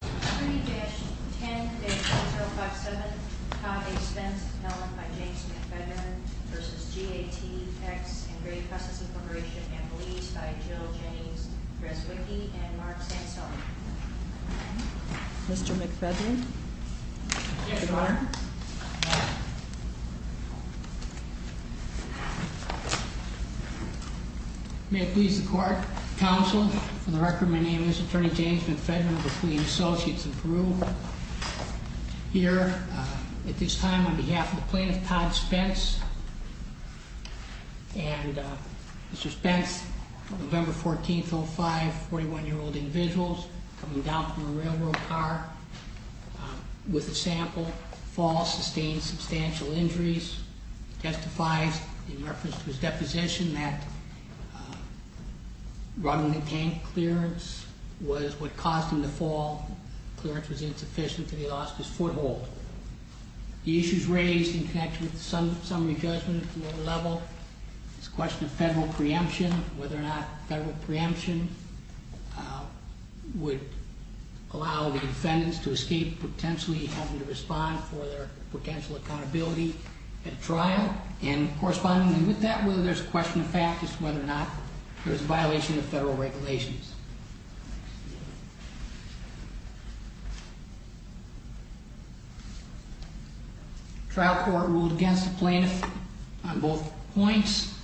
Attorney-10-0057 Tom A. Spence, appellant by James McFedrinan v. GATX & Grape Customs Incorporation & Beliefs by Jill Jennings Dreswicky & Mark Sanselli Mr. McFedrinan Yes, Your Honor May it please the court, counsel, for the record, my name is Attorney James McFedrinan of the Clean Associates in Peru. Here at this time on behalf of the plaintiff, Todd Spence, and Mr. Spence, November 14th, 05, 41-year-old individuals coming down from a railroad car with a sample, fall, sustained substantial injuries. Mr. Spence testifies in reference to his deposition that running the tank clearance was what caused him to fall. Clearance was insufficient and he lost his foothold. The issues raised in connection with the summary judgment at the lower level is a question of federal preemption. Whether or not federal preemption would allow the defendants to escape potentially having to respond for their potential accountability at trial. And correspondingly with that, whether there's a question of fact is whether or not there's a violation of federal regulations. Trial court ruled against the plaintiff on both points.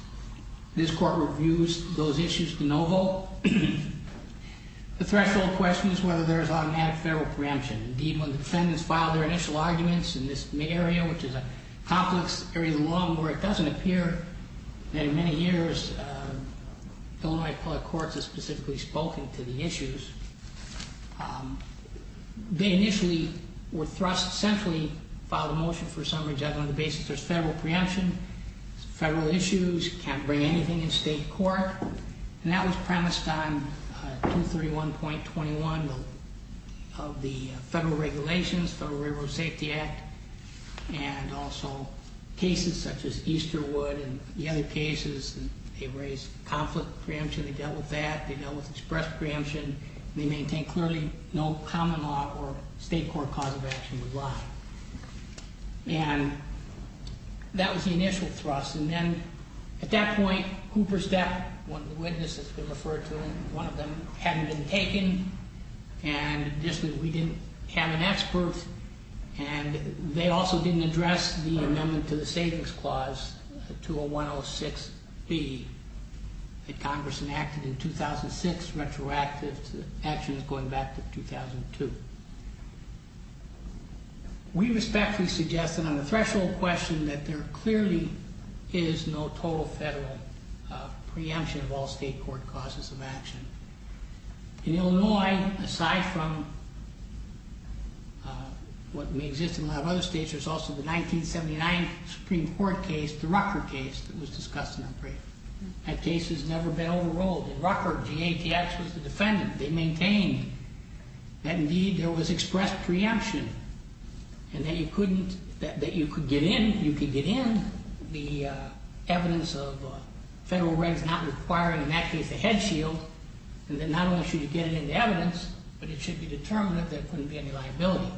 This court reviews those issues to no vote. The threshold question is whether there's automatic federal preemption. Indeed, when the defendants filed their initial arguments in this area, which is a complex area of the law where it doesn't appear that in many years Illinois public courts have specifically spoken to the issues. They initially were thrust centrally, filed a motion for summary judgment on the basis there's federal preemption, federal issues, can't bring anything in state court. And that was premised on 231.21 of the federal regulations, Federal Railroad Safety Act, and also cases such as Easterwood and the other cases. They raised conflict preemption. They dealt with that. They dealt with express preemption. They maintain clearly no common law or state court cause of action would lie. And that was the initial thrust. And then at that point, Cooper Stepp, one of the witnesses referred to him, one of them hadn't been taken. And we didn't have an expert. And they also didn't address the amendment to the savings clause to a 106B that Congress enacted in 2006, retroactive actions going back to 2002. We respectfully suggest that on the threshold question that there clearly is no total federal preemption of all state court causes of action. In Illinois, aside from what may exist in a lot of other states, there's also the 1979 Supreme Court case, the Rucker case that was discussed in that case. That case has never been overruled. In Rucker, GATX was the defendant. They maintained that, indeed, there was express preemption and that you could get in the evidence of federal rights not requiring, in that case, a head shield, and that not only should you get it into evidence, but it should be determined that there couldn't be any liability.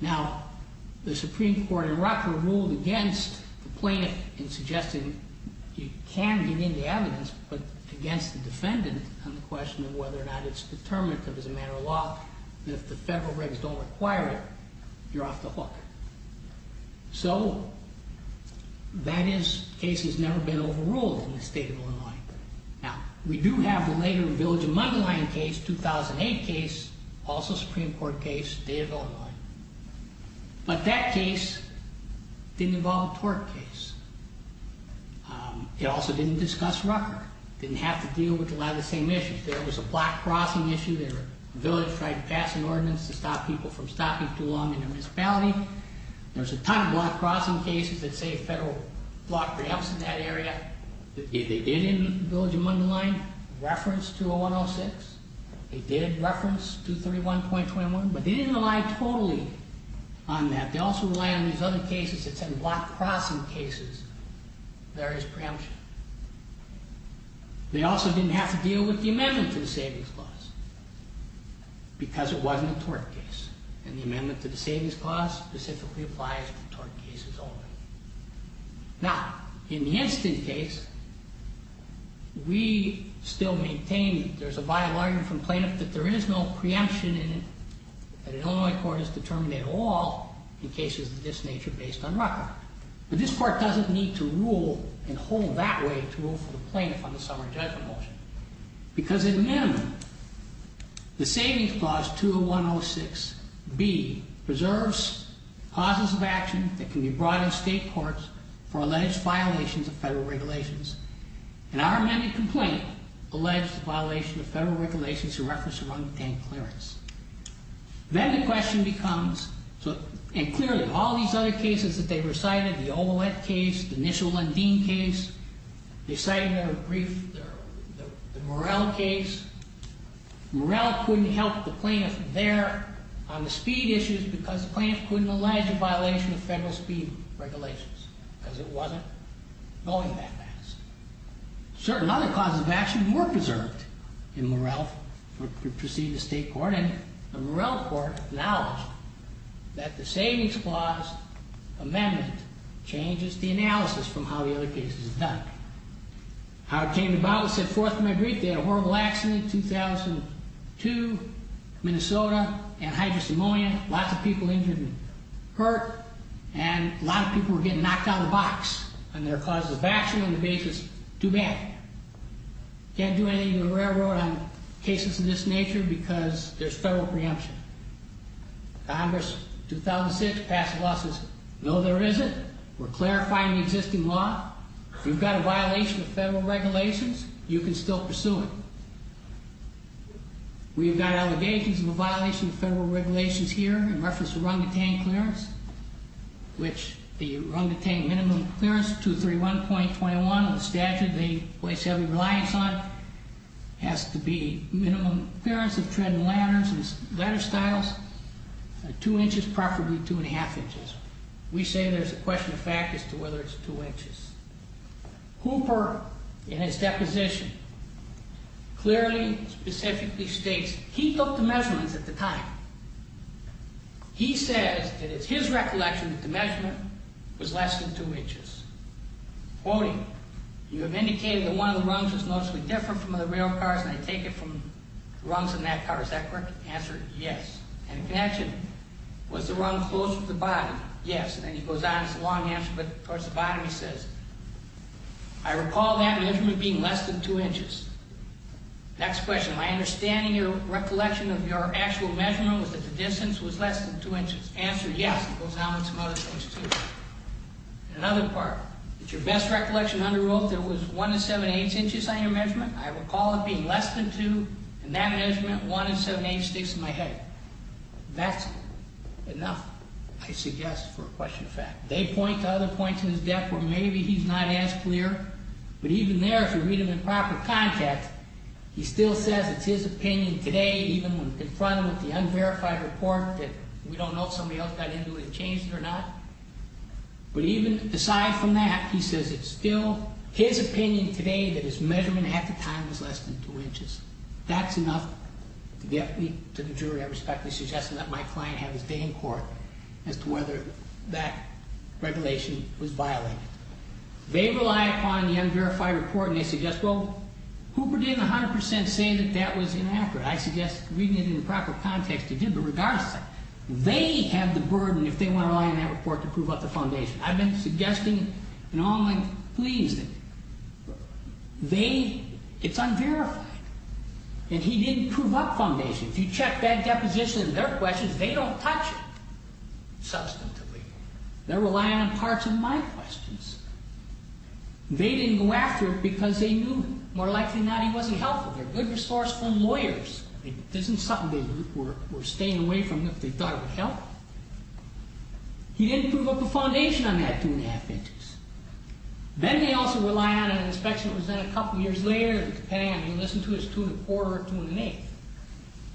Now, the Supreme Court in Rucker ruled against the plaintiff in suggesting you can get in the evidence, but against the defendant on the question of whether or not it's determinative as a matter of law, that if the federal regs don't require it, you're off the hook. So, that case has never been overruled in the state of Illinois. Now, we do have the later Village of Muddy Line case, 2008 case, also Supreme Court case, the state of Illinois. But that case didn't involve a tort case. It also didn't discuss Rucker. It didn't have to deal with a lot of the same issues. There was a block crossing issue. The village tried to pass an ordinance to stop people from stopping too long in their municipality. There's a ton of block crossing cases that say a federal block preempts in that area. They did in Village of Muddy Line reference 20106. They did reference 231.21, but they didn't rely totally on that. They also relied on these other cases that said block crossing cases, various preemption. They also didn't have to deal with the amendment to the Savings Clause because it wasn't a tort case. And the amendment to the Savings Clause specifically applies to tort cases only. Now, in the instant case, we still maintain that there's a bylaw here from plaintiff that there is no preemption in it, that an Illinois court is determined at all in cases of this nature based on Rucker. But this court doesn't need to rule and hold that way to rule for the plaintiff on the summary judgment motion because in minimum, the Savings Clause 20106B preserves causes of action that can be brought in state courts for alleged violations of federal regulations. In our amended complaint, alleged violation of federal regulations in reference to run-of-the-day clearance. Then the question becomes, and clearly, all these other cases that they recited, the Omelette case, the initial Lundeen case, they cited their brief, the Morell case. Morell couldn't help the plaintiff there on the speed issues because the plaintiff couldn't allege a violation of federal speed regulations because it wasn't going that fast. Certain other causes of action were preserved in Morell to proceed to state court. And the Morell court acknowledged that the Savings Clause amendment changes the analysis from how the other cases are done. How it came about was set forth in my brief. They had a horrible accident in 2002, Minnesota, anhydrous pneumonia, lots of people injured and hurt, and a lot of people were getting knocked out of the box on their causes of action on the basis, too bad. Can't do anything in the railroad on cases of this nature because there's federal preemption. Congress, 2006, passed a law that says, no, there isn't. We're clarifying the existing law. If you've got a violation of federal regulations, you can still pursue it. We've got allegations of a violation of federal regulations here in reference to run-of-the-day clearance, which the run-of-the-day minimum clearance, 231.21, the statute they place heavy reliance on, has to be minimum clearance of tread and ladder styles, 2 inches, preferably 2 1⁄2 inches. We say there's a question of fact as to whether it's 2 inches. Hooper, in his deposition, clearly, specifically states he took the measurements at the time. He says that it's his recollection that the measurement was less than 2 inches. Quoting, you have indicated that one of the rungs was noticeably different from other rail cars, and I take it from the rungs in that car. Is that correct? Answer, yes. And in connection, was the rung closer to the bottom? Yes. And then he goes on. It's a long answer, but towards the bottom he says, I recall that measurement being less than 2 inches. Next question. My understanding of your recollection of your actual measurement was that the distance was less than 2 inches. Answer, yes. He goes on with some other things, too. Another part. Is your best recollection under oath there was 1 7⁸ inches on your measurement? I recall it being less than 2, and that measurement, 1 7⁸, sticks in my head. That's enough, I suggest, for a question of fact. They point to other points in his deck where maybe he's not as clear, but even there, if you read him in proper context, he still says it's his opinion today, even when confronted with the unverified report, that we don't know if somebody else got into it and changed it or not. But even aside from that, he says it's still his opinion today that his measurement at the time was less than 2 inches. That's enough to get me to the jury. I respectfully suggest that my client have his day in court as to whether that regulation was violated. They rely upon the unverified report, and they suggest, well, Hooper didn't 100% say that that was inaccurate. I suggest reading it in the proper context he did, but regardless, they have the burden if they want to rely on that report to prove up the foundation. I've been suggesting in all my pleas that they, it's unverified, and he didn't prove up foundation. If you check that deposition in their questions, they don't touch it substantively. They're relying on parts of my questions. They didn't go after it because they knew, more likely than not, he wasn't helpful. They're good, resourceful lawyers. It isn't something they were staying away from if they thought it would help. He didn't prove up the foundation on that 2 1⁄2 inches. Then they also rely on an inspection that was done a couple years later, depending on if you listen to his 2 1⁄4 or 2 1⁄8.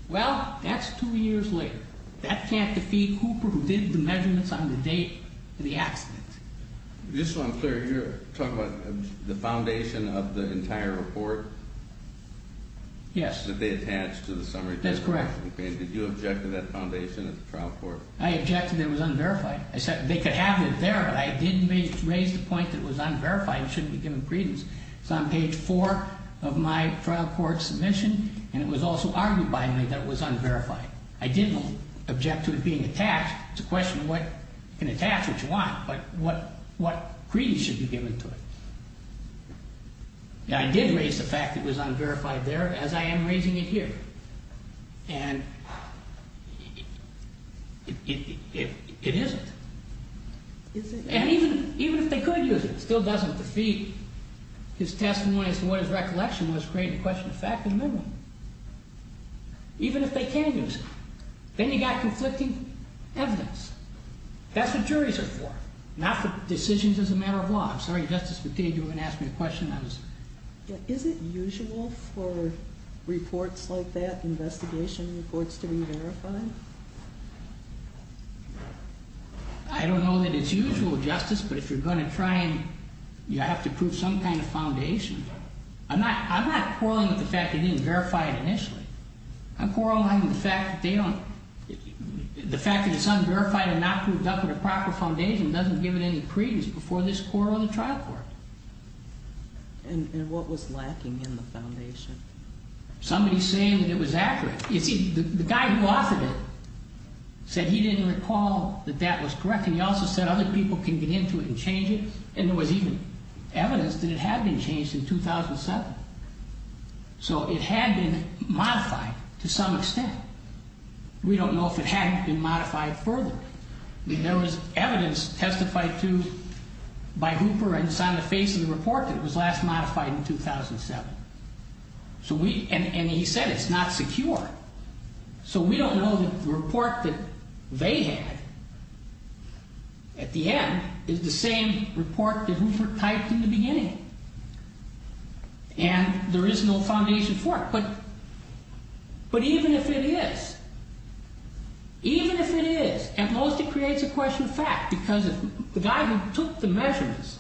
Well, that's 2 years later. That can't defeat Cooper, who did the measurements on the date of the accident. Just so I'm clear, you're talking about the foundation of the entire report? Yes. That they attached to the summary case? That's correct. Okay, and did you object to that foundation at the trial court? I objected that it was unverified. They could have it there, but I did raise the point that it was unverified and shouldn't be given credence. It's on page 4 of my trial court submission, and it was also argued by me that it was unverified. I didn't object to it being attached. It's a question of what can attach what you want, but what credence should be given to it. I did raise the fact that it was unverified there, as I am raising it here. And it isn't. And even if they could use it, it still doesn't defeat his testimony as to what his recollection was in creating a question of fact in the middle, even if they can use it. Then you've got conflicting evidence. That's what juries are for, not for decisions as a matter of law. I'm sorry, Justice Battaglia, you were going to ask me a question. Is it usual for reports like that, investigation reports, to be verified? I don't know that it's usual, Justice, but if you're going to try and you have to prove some kind of foundation. I'm not quarreling with the fact that he didn't verify it initially. I'm quarreling with the fact that the fact that it's unverified and not proved up with a proper foundation doesn't give it any credence before this court or the trial court. And what was lacking in the foundation? Somebody saying that it was accurate. You see, the guy who authored it said he didn't recall that that was correct, and he also said other people can get into it and change it, and there was even evidence that it had been changed in 2007. So it had been modified to some extent. We don't know if it hadn't been modified further. There was evidence testified to by Hooper and it's on the face of the report that it was last modified in 2007. And he said it's not secure. So we don't know that the report that they had at the end is the same report that Hooper typed in the beginning. And there is no foundation for it. But even if it is, even if it is, at most it creates a question of fact because the guy who took the measurements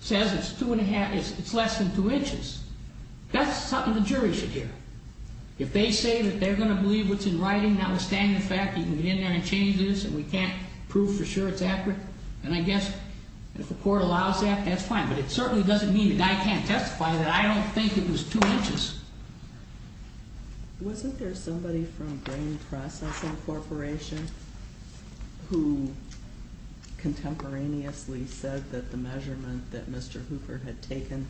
says it's less than two inches. That's something the jury should hear. If they say that they're going to believe what's in writing, notwithstanding the fact that you can get in there and change this and we can't prove for sure it's accurate, then I guess if the court allows that, that's fine. But it certainly doesn't mean that I can't testify that I don't think it was two inches. Wasn't there somebody from Grain Processing Corporation who contemporaneously said that the measurement that Mr. Hooper had taken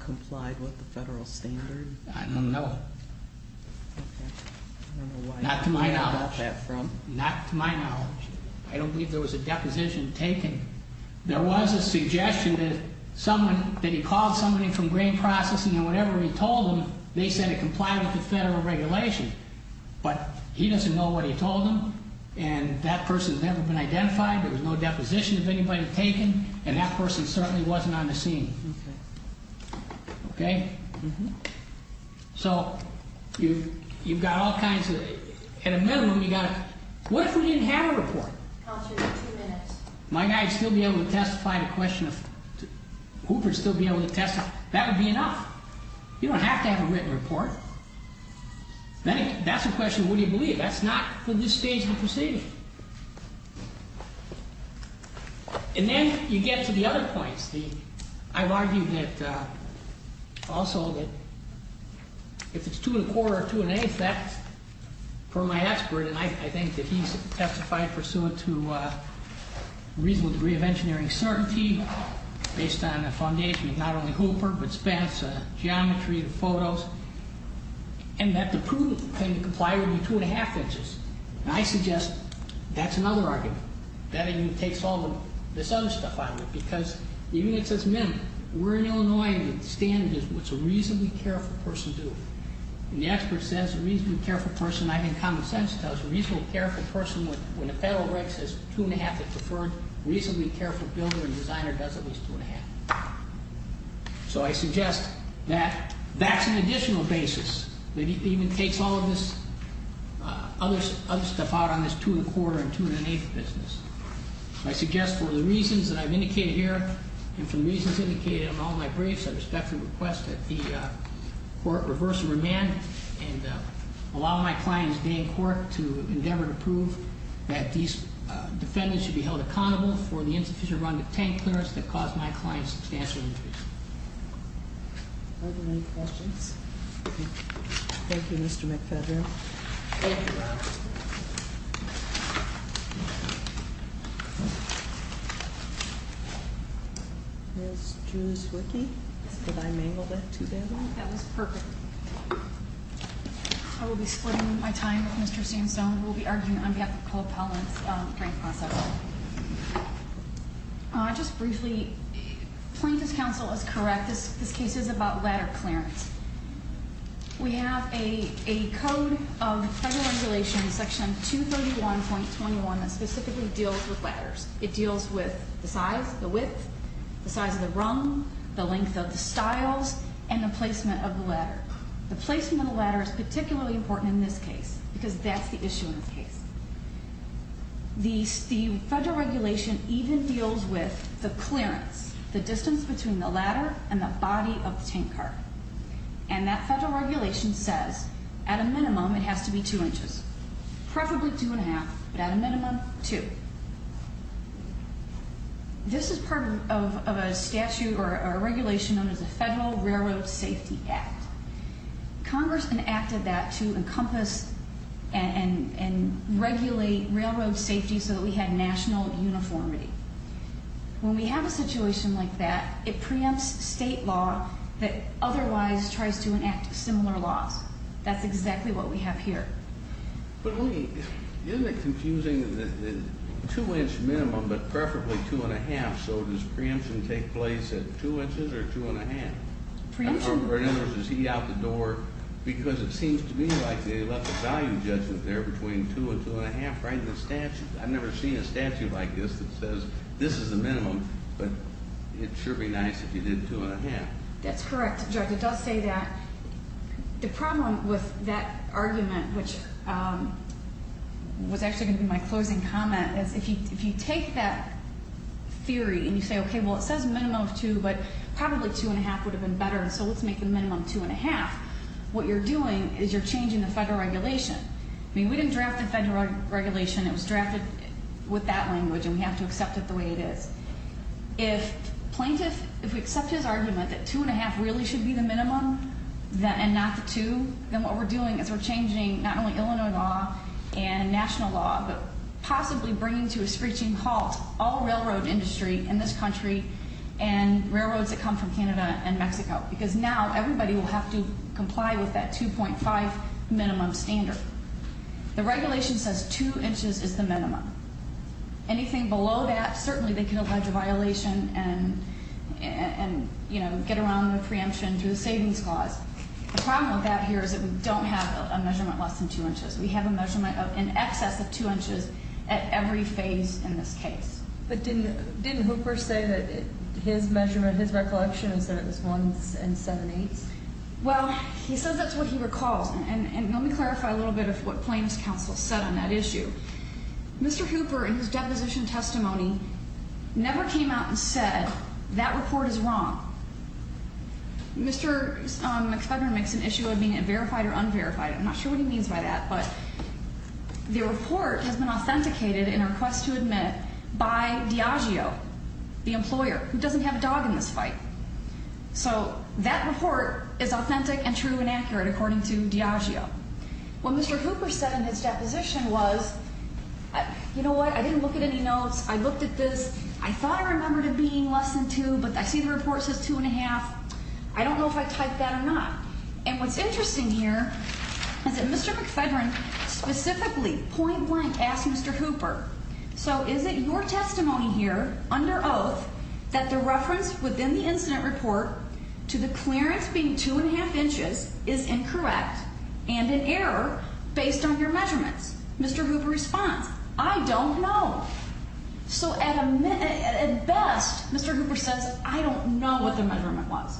complied with the federal standard? I don't know. Not to my knowledge. Not to my knowledge. I don't believe there was a deposition taken. There was a suggestion that someone, that he called somebody from Grain Processing and whatever he told them, they said it complied with the federal regulation. But he doesn't know what he told them, and that person has never been identified. There was no deposition of anybody taken, and that person certainly wasn't on the scene. Okay? So you've got all kinds of... At a minimum, you've got to... What if we didn't have a report? My guy would still be able to testify to the question of... Hooper would still be able to testify. That would be enough. You don't have to have a written report. That's a question of what do you believe. That's not for this stage of the proceeding. And then you get to the other points. I've argued that also that if it's 2 1⁄4 or 2 1⁄8, that, for my expert, and I think that he's testified pursuant to a reasonable degree of engineering certainty based on the foundation of not only Hooper but Spence, geometry, the photos, and that the prudent thing to comply would be 2 1⁄2 inches. And I suggest that's another argument. That even takes all of this other stuff out of it because even if it says minimum, we're in Illinois and the standard is what's a reasonably careful person do. And the expert says a reasonably careful person, I think common sense tells you, a reasonably careful person when the federal rate says 2 1⁄2 is preferred, a reasonably careful builder and designer does at least 2 1⁄2. So I suggest that that's an additional basis that even takes all of this other stuff out on this 2 1⁄4 and 2 1⁄8 business. I suggest for the reasons that I've indicated here and for the reasons indicated on all my briefs, I respectfully request that the court reverse the remand and allow my client's day in court to endeavor to prove that these defendants should be held accountable for the insufficient run to tank clearance that caused my client substantial injuries. Are there any questions? Thank you, Mr. McFadden. Ms. Julius-Wicky, did I mangle that too badly? That was perfect. I will be splitting my time with Mr. Sandstone who will be arguing on behalf of Cole-Pellant's grant process. Just briefly, plaintiff's counsel is correct. This case is about ladder clearance. We have a code of federal regulations, section 231.21, that specifically deals with ladders. It deals with the size, the width, the size of the rung, the length of the stiles, and the placement of the ladder. The placement of the ladder is particularly important in this case because that's the issue in this case. The federal regulation even deals with the clearance, the distance between the ladder and the body of the tanker. And that federal regulation says at a minimum it has to be two inches, preferably two and a half, but at a minimum, two. This is part of a statute or a regulation known as the Federal Railroad Safety Act. Congress enacted that to encompass and regulate railroad safety so that we had national uniformity. When we have a situation like that, it preempts state law that otherwise tries to enact similar laws. That's exactly what we have here. Isn't it confusing that the two-inch minimum, but preferably two and a half, so does preemption take place at two inches or two and a half? Preemption? In other words, is he out the door? Because it seems to me like they left a value judgment there between two and two and a half right in the statute. I've never seen a statute like this that says this is the minimum, but it'd sure be nice if you did two and a half. That's correct, Judge. It does say that. The problem with that argument, which was actually going to be my closing comment, is if you take that theory and you say, okay, well, it says minimum of two, but probably two and a half would have been better, so let's make the minimum two and a half. What you're doing is you're changing the federal regulation. I mean, we didn't draft the federal regulation. It was drafted with that language, and we have to accept it the way it is. If plaintiff, if we accept his argument that two and a half really should be the minimum and not the two, then what we're doing is we're changing not only Illinois law and national law, but possibly bringing to a screeching halt all railroad industry in this country and railroads that come from Canada and Mexico, because now everybody will have to comply with that 2.5 minimum standard. The regulation says two inches is the minimum. Anything below that, certainly they can allege a violation and get around the preemption through the savings clause. The problem with that here is that we don't have a measurement less than two inches. We have a measurement in excess of two inches at every phase in this case. But didn't Hooper say that his measurement, his recollection, is that it was one and seven-eighths? Well, he says that's what he recalls, and let me clarify a little bit of what Plaintiff's Counsel said on that issue. Mr. Hooper, in his deposition testimony, never came out and said that report is wrong. Mr. McFedrin makes an issue of being verified or unverified. I'm not sure what he means by that, but the report has been authenticated in a request to admit by Diageo, the employer, who doesn't have a dog in this fight. So that report is authentic and true and accurate according to Diageo. What Mr. Hooper said in his deposition was, you know what, I didn't look at any notes. I looked at this. I thought I remembered it being less than two, but I see the report says two and a half. I don't know if I typed that or not. And what's interesting here is that Mr. McFedrin specifically point blank asked Mr. Hooper, so is it your testimony here under oath that the reference within the incident report to the clearance being two and a half inches is incorrect and an error based on your measurements? Mr. Hooper responds, I don't know. So at best, Mr. Hooper says, I don't know what the measurement was.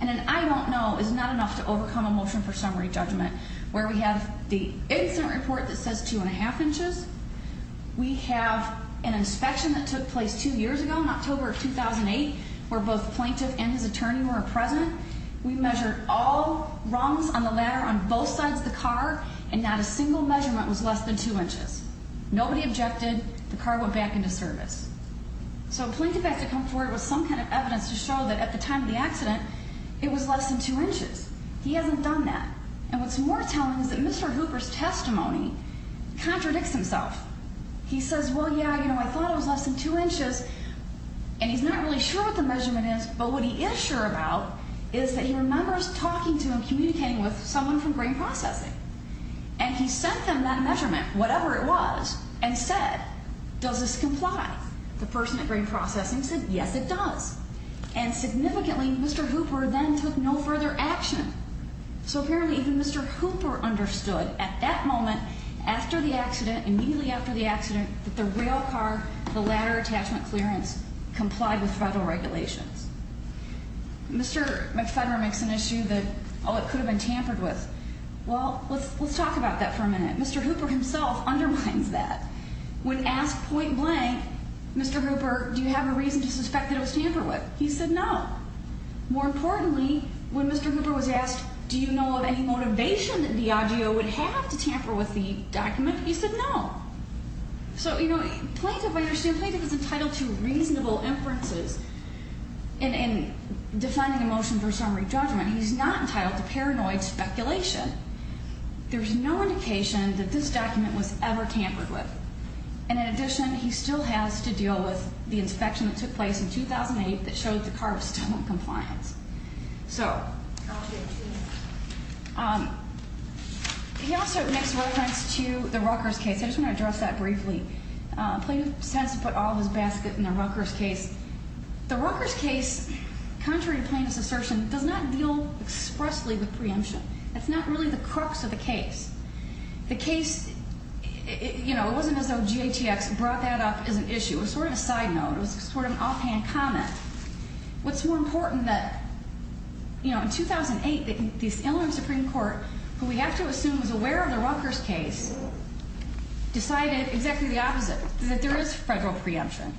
And an I don't know is not enough to overcome a motion for summary judgment where we have the incident report that says two and a half inches. We have an inspection that took place two years ago in October of 2008 where both plaintiff and his attorney were present. We measured all rungs on the ladder on both sides of the car, and not a single measurement was less than two inches. Nobody objected. The car went back into service. So plaintiff has to come forward with some kind of evidence to show that at the time of the accident, it was less than two inches. He hasn't done that. And what's more telling is that Mr. Hooper's testimony contradicts himself. He says, well, yeah, you know, I thought it was less than two inches, and he's not really sure what the measurement is, but what he is sure about is that he remembers talking to and communicating with someone from grain processing. And he sent them that measurement, whatever it was, and said, does this comply? The person at grain processing said, yes, it does. And significantly, Mr. Hooper then took no further action. So apparently even Mr. Hooper understood at that moment after the accident, immediately after the accident, that the rail car, the ladder attachment clearance, complied with federal regulations. Mr. McFederer makes an issue that, oh, it could have been tampered with. Well, let's talk about that for a minute. Mr. Hooper himself undermines that. When asked point blank, Mr. Hooper, do you have a reason to suspect that it was tampered with? He said no. More importantly, when Mr. Hooper was asked, do you know of any motivation that the IGO would have to tamper with the document? He said no. So, you know, Plaintiff, I understand Plaintiff is entitled to reasonable inferences in defining a motion for summary judgment. He's not entitled to paranoid speculation. There's no indication that this document was ever tampered with. And in addition, he still has to deal with the inspection that took place in 2008 that showed the car was still in compliance. So he also makes reference to the Rutgers case. I just want to address that briefly. Plaintiff says to put all his basket in the Rutgers case. The Rutgers case, contrary to Plaintiff's assertion, does not deal expressly with preemption. That's not really the crux of the case. The case, you know, it wasn't as though GATX brought that up as an issue. It was sort of a side note. It was sort of an offhand comment. What's more important that, you know, in 2008 the Illinois Supreme Court, who we have to assume is aware of the Rutgers case, decided exactly the opposite, that there is federal preemption.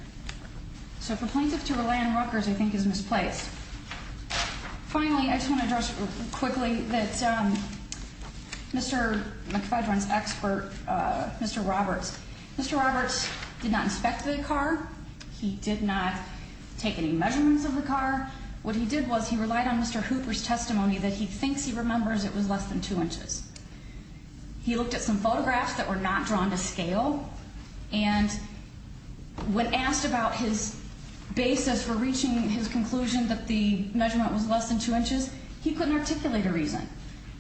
So for Plaintiff to rely on Rutgers I think is misplaced. Finally, I just want to address quickly that Mr. McFadren's expert, Mr. Roberts. Mr. Roberts did not inspect the car. He did not take any measurements of the car. What he did was he relied on Mr. Hooper's testimony that he thinks he remembers it was less than two inches. He looked at some photographs that were not drawn to scale. And when asked about his basis for reaching his conclusion that the measurement was less than two inches, he couldn't articulate a reason.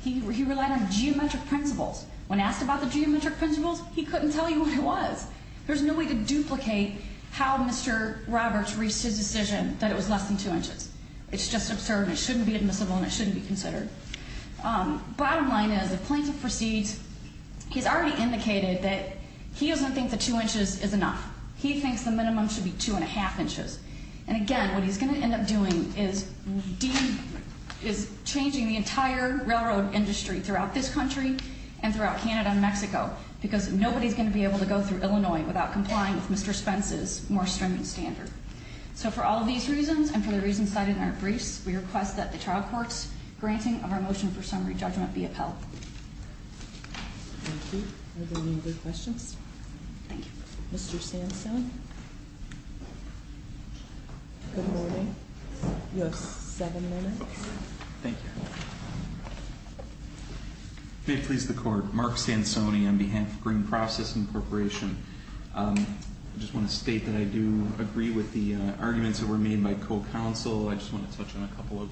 He relied on geometric principles. When asked about the geometric principles, he couldn't tell you what it was. There's no way to duplicate how Mr. Roberts reached his decision that it was less than two inches. It's just absurd and it shouldn't be admissible and it shouldn't be considered. Bottom line is if Plaintiff proceeds, he's already indicated that he doesn't think the two inches is enough. He thinks the minimum should be two and a half inches. And again, what he's going to end up doing is changing the entire railroad industry throughout this country and throughout Canada and Mexico because nobody's going to be able to go through Illinois without complying with Mr. Spence's more stringent standard. So for all of these reasons and for the reasons cited in our briefs, we request that the trial court's granting of our motion for summary judgment be upheld. Thank you. Are there any other questions? Thank you. Mr. Sansone? Good morning. You have seven minutes. Thank you. May it please the Court, Mark Sansone on behalf of Green Process Incorporation. I just want to state that I do agree with the arguments that were made by co-counsel. I just want to touch on a couple of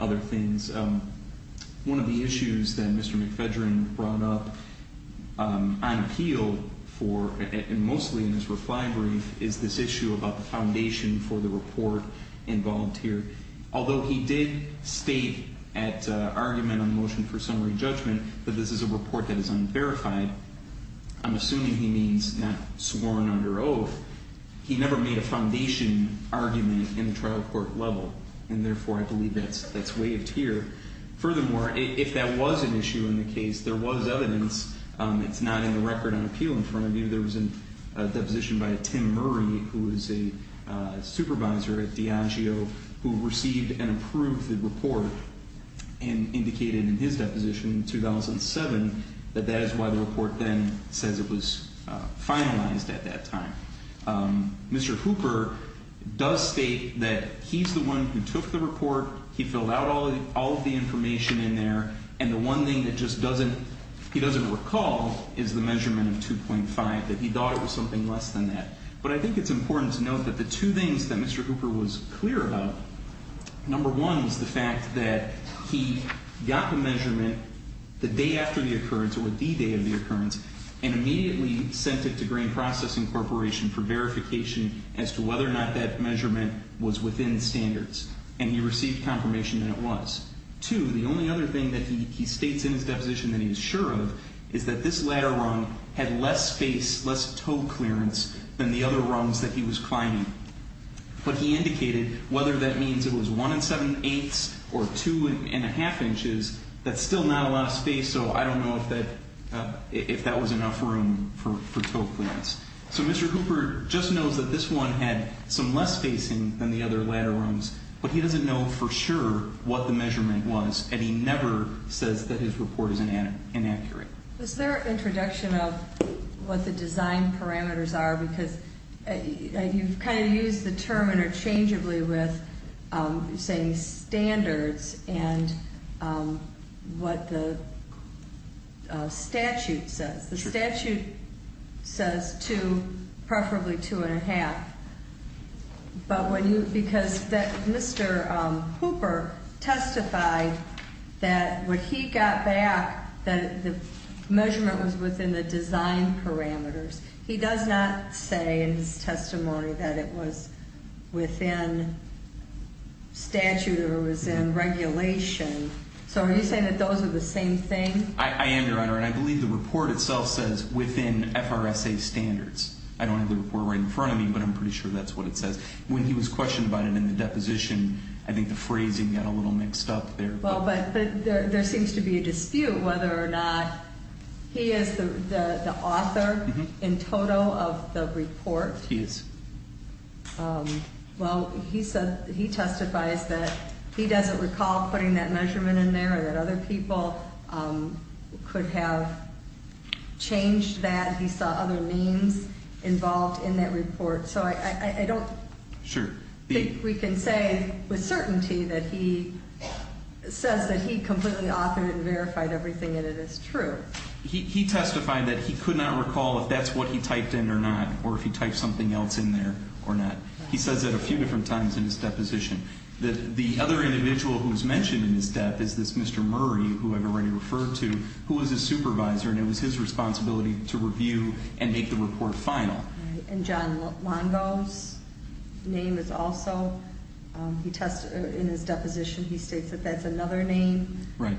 other things. One of the issues that Mr. McFedrin brought up on appeal for, and mostly in his reply brief, is this issue about the foundation for the report involved here. Although he did state at argument on the motion for summary judgment that this is a report that is unverified, I'm assuming he means not sworn under oath, he never made a foundation argument in the trial court level, and therefore I believe that's waived here. Furthermore, if that was an issue in the case, there was evidence. It's not in the record on appeal in front of you. There was a deposition by Tim Murray, who is a supervisor at Diageo, who received and approved the report and indicated in his deposition in 2007 that that is why the report then says it was finalized at that time. Mr. Hooper does state that he's the one who took the report, he filled out all of the information in there, and the one thing that just doesn't, he doesn't recall is the measurement of 2.5, that he thought it was something less than that. But I think it's important to note that the two things that Mr. Hooper was clear about, number one was the fact that he got the measurement the day after the occurrence or the day of the occurrence and immediately sent it to Grain Processing Corporation for verification as to whether or not that measurement was within standards, and he received confirmation that it was. Two, the only other thing that he states in his deposition that he is sure of is that this ladder rung had less space, less toe clearance than the other rungs that he was climbing. But he indicated whether that means it was one and seven-eighths or two and a half inches, that's still not a lot of space, so I don't know if that was enough room for toe clearance. So Mr. Hooper just knows that this one had some less spacing than the other ladder rungs, but he doesn't know for sure what the measurement was, and he never says that his report is inaccurate. Was there an introduction of what the design parameters are? Because you've kind of used the term interchangeably with saying standards and what the statute says. The statute says two, preferably two and a half, because Mr. Hooper testified that when he got back that the measurement was within the design parameters. He does not say in his testimony that it was within statute or it was in regulation. So are you saying that those are the same thing? I am, Your Honor, and I believe the report itself says within FRSA standards. I don't have the report right in front of me, but I'm pretty sure that's what it says. When he was questioned about it in the deposition, I think the phrasing got a little mixed up there. Well, but there seems to be a dispute whether or not he is the author in toto of the report. He is. Well, he testified that he doesn't recall putting that measurement in there or that other people could have changed that. He saw other names involved in that report. So I don't think we can say with certainty that he says that he completely authored and verified everything in it is true. He testified that he could not recall if that's what he typed in or not or if he typed something else in there or not. He says that a few different times in his deposition. The other individual who was mentioned in his dep is this Mr. Murray, who I've already referred to, who was his supervisor, and it was his responsibility to review and make the report final. And John Longo's name is also in his deposition. He states that that's another name. Right.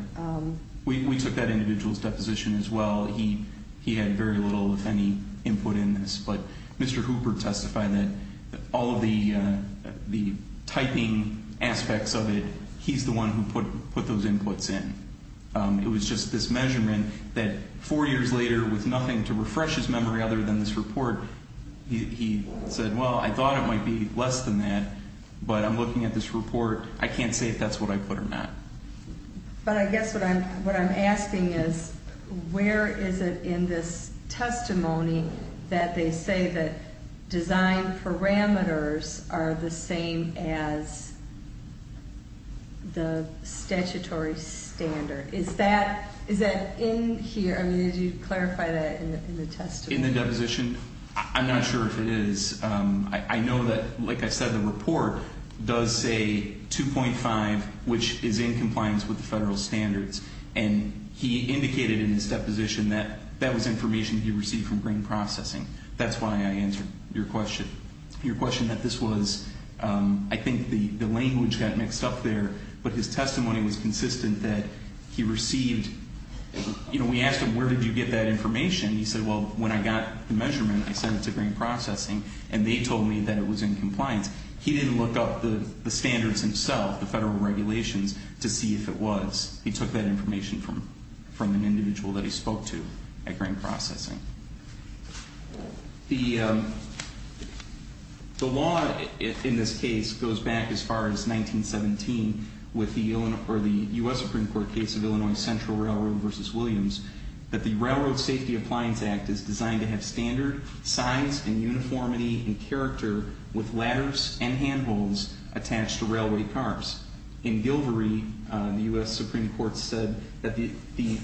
We took that individual's deposition as well. He had very little, if any, input in this. But Mr. Hooper testified that all of the typing aspects of it, he's the one who put those inputs in. It was just this measurement that four years later, with nothing to refresh his memory other than this report, he said, well, I thought it might be less than that, but I'm looking at this report. I can't say if that's what I put or not. But I guess what I'm asking is where is it in this testimony that they say that design parameters are the same as the statutory standard? Is that in here? I mean, did you clarify that in the testimony? In the deposition? I'm not sure if it is. I know that, like I said, the report does say 2.5, which is in compliance with the federal standards. And he indicated in his deposition that that was information he received from green processing. That's why I answered your question. Your question that this was, I think the language got mixed up there, but his testimony was consistent that he received, you know, we asked him, where did you get that information? He said, well, when I got the measurement, I sent it to green processing, and they told me that it was in compliance. He didn't look up the standards himself, the federal regulations, to see if it was. He took that information from an individual that he spoke to at green processing. The law in this case goes back as far as 1917 with the U.S. Supreme Court case of Illinois Central Railroad v. Williams that the Railroad Safety Appliance Act is designed to have standard size and uniformity and character with ladders and handholds attached to railway cars. In Gilvory, the U.S. Supreme Court said that the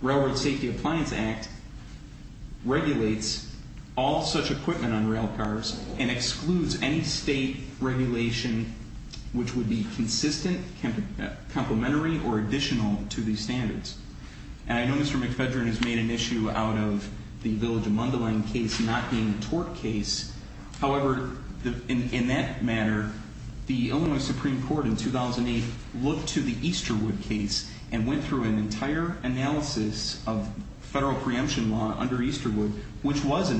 Railroad Safety Appliance Act regulates all such equipment on rail cars and excludes any state regulation which would be consistent, complementary, or additional to these standards. And I know Mr. McFedrin has made an issue out of the Village of Mundelein case not being a tort case. However, in that matter, the Illinois Supreme Court in 2008 looked to the Easterwood case and went through an entire analysis of federal preemption law under Easterwood, which was a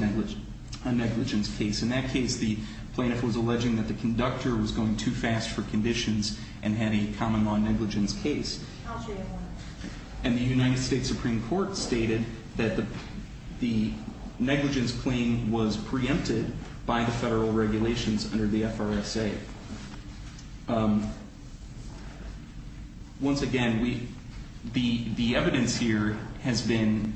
negligence case. In that case, the plaintiff was alleging that the conductor was going too fast for conditions and had a common law negligence case. And the United States Supreme Court stated that the negligence claim was preempted by the federal regulations under the FRSA. Once again, the evidence here has been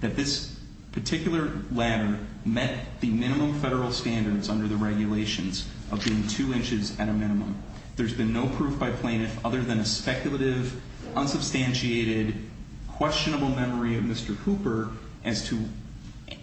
that this particular ladder met the minimum federal standards under the regulations of being two inches at a minimum. There's been no proof by plaintiff other than a speculative, unsubstantiated, questionable memory of Mr. Cooper as to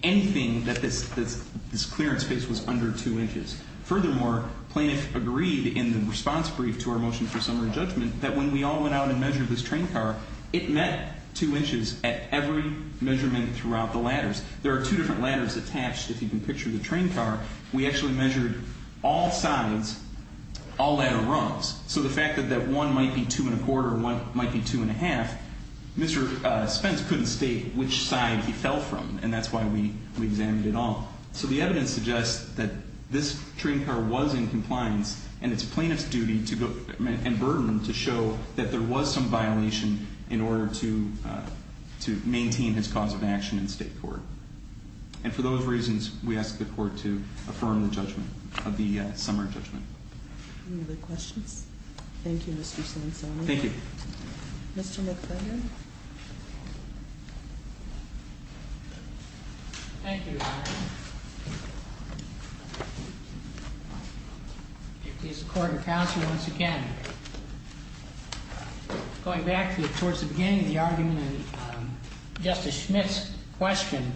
anything that this clearance space was under two inches. Furthermore, plaintiff agreed in the response brief to our motion for summary judgment that when we all went out and measured this train car, it met two inches at every measurement throughout the ladders. There are two different ladders attached, if you can picture the train car. We actually measured all sides, all ladder rungs. So the fact that one might be two and a quarter and one might be two and a half, Mr. Spence couldn't state which side he fell from, and that's why we examined it all. So the evidence suggests that this train car was in compliance, and it's plaintiff's duty and burden to show that there was some violation in order to maintain his cause of action in state court. And for those reasons, we ask the court to affirm the judgment of the summary judgment. Any other questions? Thank you, Mr. Sonsoni. Thank you. Mr. McFarland. Thank you, Your Honor. Please support and counsel once again. Going back towards the beginning of the argument and Justice Schmitt's question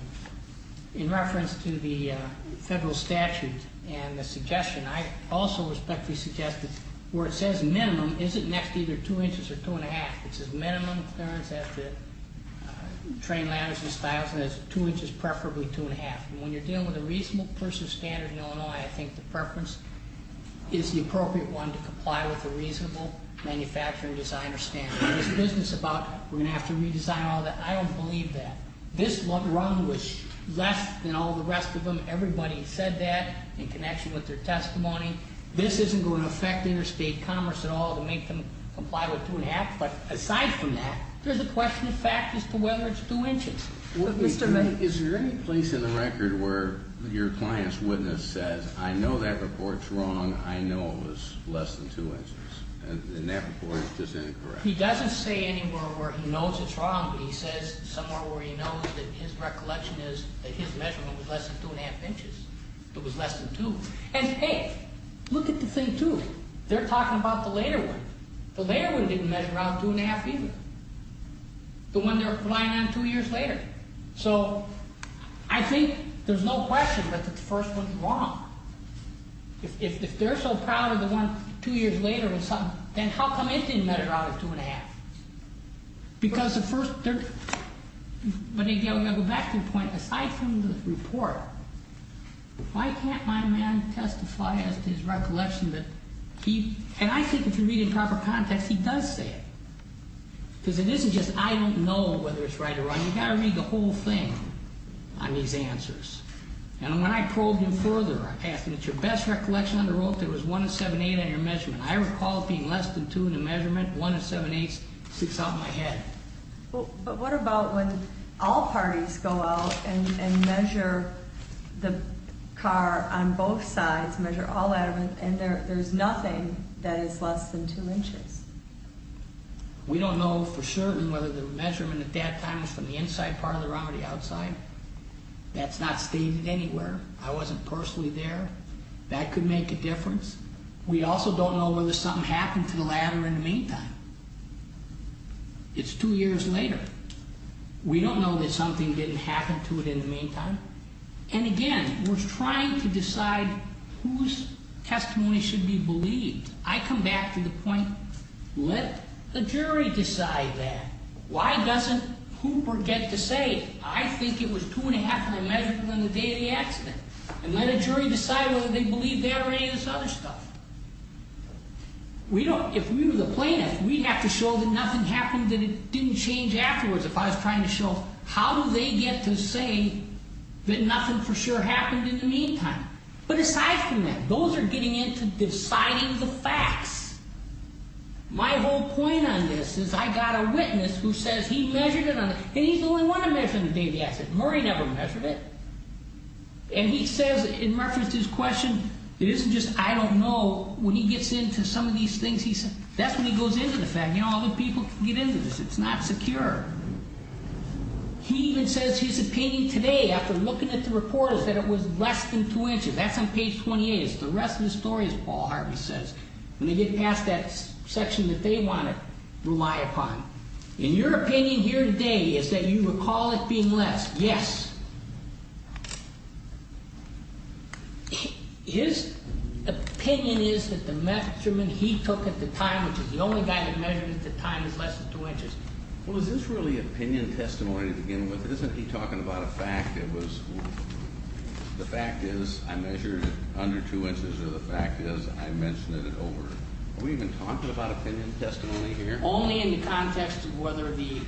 in reference to the federal statute and the suggestion, I also respectfully suggest that where it says minimum, is it next to either two inches or two and a half? It says minimum clearance at the train ladders and stiles, and that's two inches, preferably two and a half. And when you're dealing with a reasonable person's standard in Illinois, I think the preference is the appropriate one to comply with a reasonable manufacturing designer standard. This business about we're going to have to redesign all that, I don't believe that. This run was less than all the rest of them. Everybody said that in connection with their testimony. This isn't going to affect interstate commerce at all to make them comply with two and a half. But aside from that, there's a question of fact as to whether it's two inches. Is there any place in the record where your client's witness says, I know that report's wrong, I know it was less than two inches? And that report is just incorrect. He doesn't say anywhere where he knows it's wrong, but he says somewhere where he knows that his recollection is that his measurement was less than two and a half inches. It was less than two. And, hey, look at the thing, too. They're talking about the later one. The later one didn't measure out two and a half either. The one they're relying on two years later. So, I think there's no question that the first one's wrong. If they're so proud of the one two years later, then how come it didn't measure out two and a half? Because the first, when they go back to the point, aside from the report, why can't my man testify as to his recollection that he, and I think if you read in proper context, he does say it. Because it isn't just I don't know whether it's right or wrong. You've got to read the whole thing on these answers. And when I probed him further, I asked him, is your best recollection on the road that it was one and seven-eight on your measurement? I recall it being less than two in the measurement, one and seven-eight sticks out in my head. But what about when all parties go out and measure the car on both sides, measure all that, and there's nothing that is less than two inches? We don't know for certain whether the measurement at that time was from the inside part of the round or the outside. That's not stated anywhere. I wasn't personally there. That could make a difference. We also don't know whether something happened to the ladder in the meantime. It's two years later. We don't know that something didn't happen to it in the meantime. And again, we're trying to decide whose testimony should be believed. I come back to the point, let the jury decide that. Why doesn't Hooper get to say, I think it was two and a half on the measurement on the day of the accident. And let a jury decide whether they believe that or any of this other stuff. If we were the plaintiff, we'd have to show that nothing happened, that it didn't change afterwards. If I was trying to show, how do they get to say that nothing for sure happened in the meantime? But aside from that, those are getting into deciding the facts. My whole point on this is I got a witness who says he measured it on, and he's the only one to measure on the day of the accident. Murray never measured it. And he says, in reference to his question, it isn't just I don't know. When he gets into some of these things, that's when he goes into the fact. You know, other people can get into this. It's not secure. He even says his opinion today, after looking at the report, is that it was less than two inches. That's on page 28. It's the rest of the story, as Paul Harvey says, when they get past that section that they want to rely upon. In your opinion here today, is that you recall it being less? Yes. His opinion is that the measurement he took at the time, which is the only guy that measured it at the time, is less than two inches. Well, is this really opinion testimony to begin with? Isn't he talking about a fact that was the fact is I measured it under two inches, or the fact is I mentioned it over? Are we even talking about opinion testimony here? Only in the context of whether the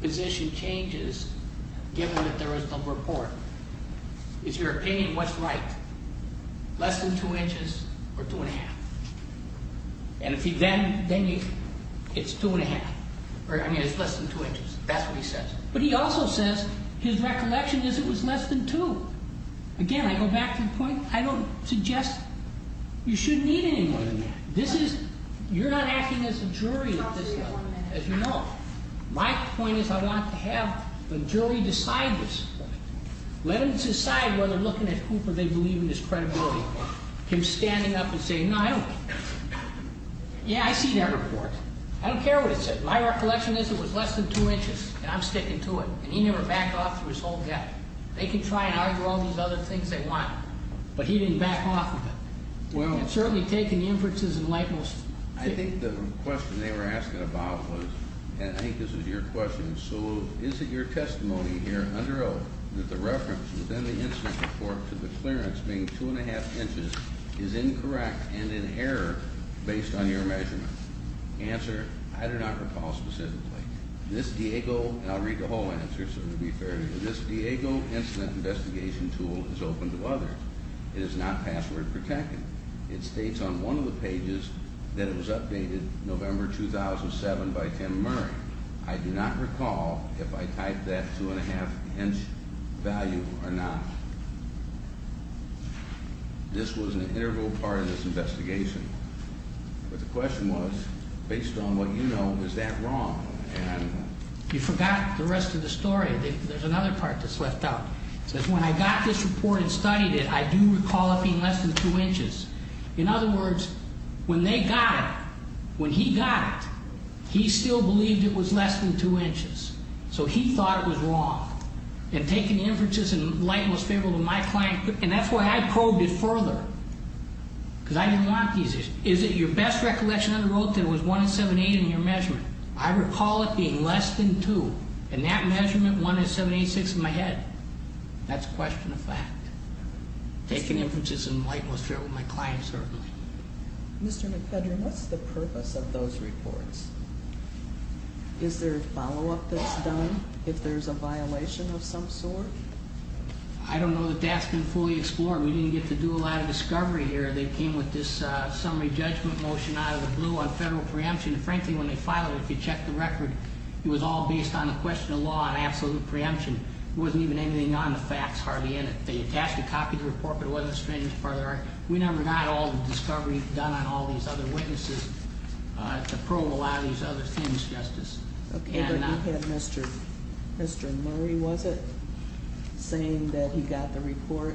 position changes, given that there is no report. Is your opinion what's right, less than two inches or two and a half? And if he then, then it's two and a half, or I mean it's less than two inches. That's what he says. But he also says his recollection is it was less than two. Again, I go back to the point, I don't suggest you should need any more than that. This is, you're not acting as a jury at this level, as you know. My point is I want to have the jury decide this. Let them decide whether looking at Cooper they believe in his credibility. Him standing up and saying, no, I don't. Yeah, I see that report. I don't care what it says. My recollection is it was less than two inches, and I'm sticking to it. And he never backed off through his whole gap. They can try and argue all these other things they want, but he didn't back off of it. Certainly taking inferences and likeness. I think the question they were asking about was, and I think this is your question, so is it your testimony here under oath that the reference within the incident report to the clearance being two and a half inches is incorrect and in error based on your measurement? Answer, I do not recall specifically. This Diego, and I'll read the whole answer so it will be fair to you, this Diego Incident Investigation Tool is open to others. It is not password protected. It states on one of the pages that it was updated November 2007 by Tim Murray. I do not recall if I typed that two and a half inch value or not. This was an integral part of this investigation. But the question was, based on what you know, is that wrong? You forgot the rest of the story. There's another part that's left out. It says when I got this report and studied it, I do recall it being less than two inches. In other words, when they got it, when he got it, he still believed it was less than two inches. So he thought it was wrong. And taking inferences and likeness favorable to my client, and that's why I probed it further because I didn't want these issues. Is it your best recollection under oath that it was one and seven-eight in your measurement? I recall it being less than two. In that measurement, one is seven-eight-six in my head. That's a question of fact. Taking inferences and likeness favorable to my client, certainly. Mr. McFedrin, what's the purpose of those reports? Is there a follow-up that's done if there's a violation of some sort? I don't know that that's been fully explored. We didn't get to do a lot of discovery here. They came with this summary judgment motion out of the blue on federal preemption. Frankly, when they filed it, if you checked the record, it was all based on the question of law and absolute preemption. It wasn't even anything on the facts hardly in it. They attached a copy of the report, but it wasn't a strange part of the record. We never got all the discovery done on all these other witnesses to probe a lot of these other things, Justice. Okay, but he had Mr. Murray, was it, saying that he got the report?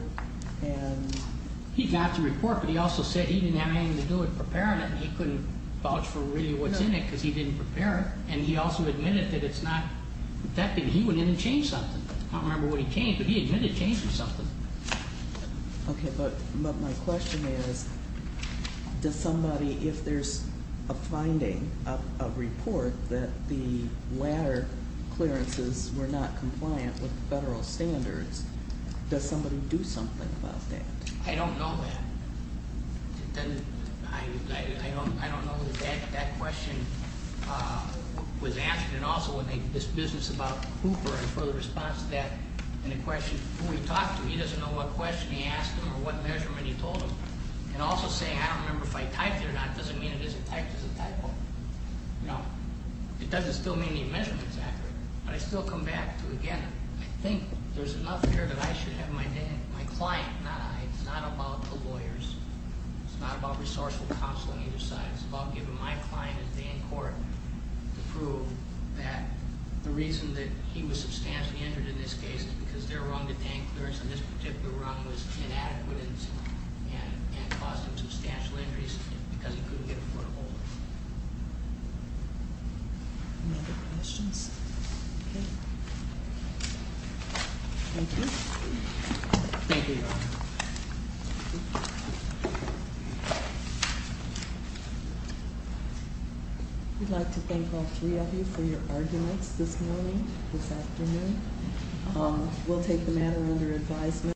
He got the report, but he also said he didn't have anything to do with preparing it. He couldn't vouch for really what's in it because he didn't prepare it, and he also admitted that it's not that big. He went in and changed something. I don't remember what he changed, but he admitted changing something. Okay, but my question is, does somebody, if there's a finding, a report, that the latter clearances were not compliant with federal standards, does somebody do something about that? I don't know that. I don't know that that question was asked, and also this business about Hooper and further response to that, and the question who he talked to, he doesn't know what question he asked him or what measurement he told him. And also saying, I don't remember if I typed it or not, doesn't mean it isn't typed as a typo. It doesn't still mean the measurement is accurate, but I still come back to, again, I think there's enough here that I should have my client, not I, it's not about the lawyers. It's not about resourceful counseling either side. It's about giving my client a day in court to prove that the reason that he was substantially injured in this case is because their wrong to pay and clearance in this particular wrong was inadequate and caused him substantial injuries because he couldn't get a foot hold. Any other questions? Okay. Thank you. Thank you. We'd like to thank all three of you for your arguments this morning, this afternoon. We'll take the matter under advisement.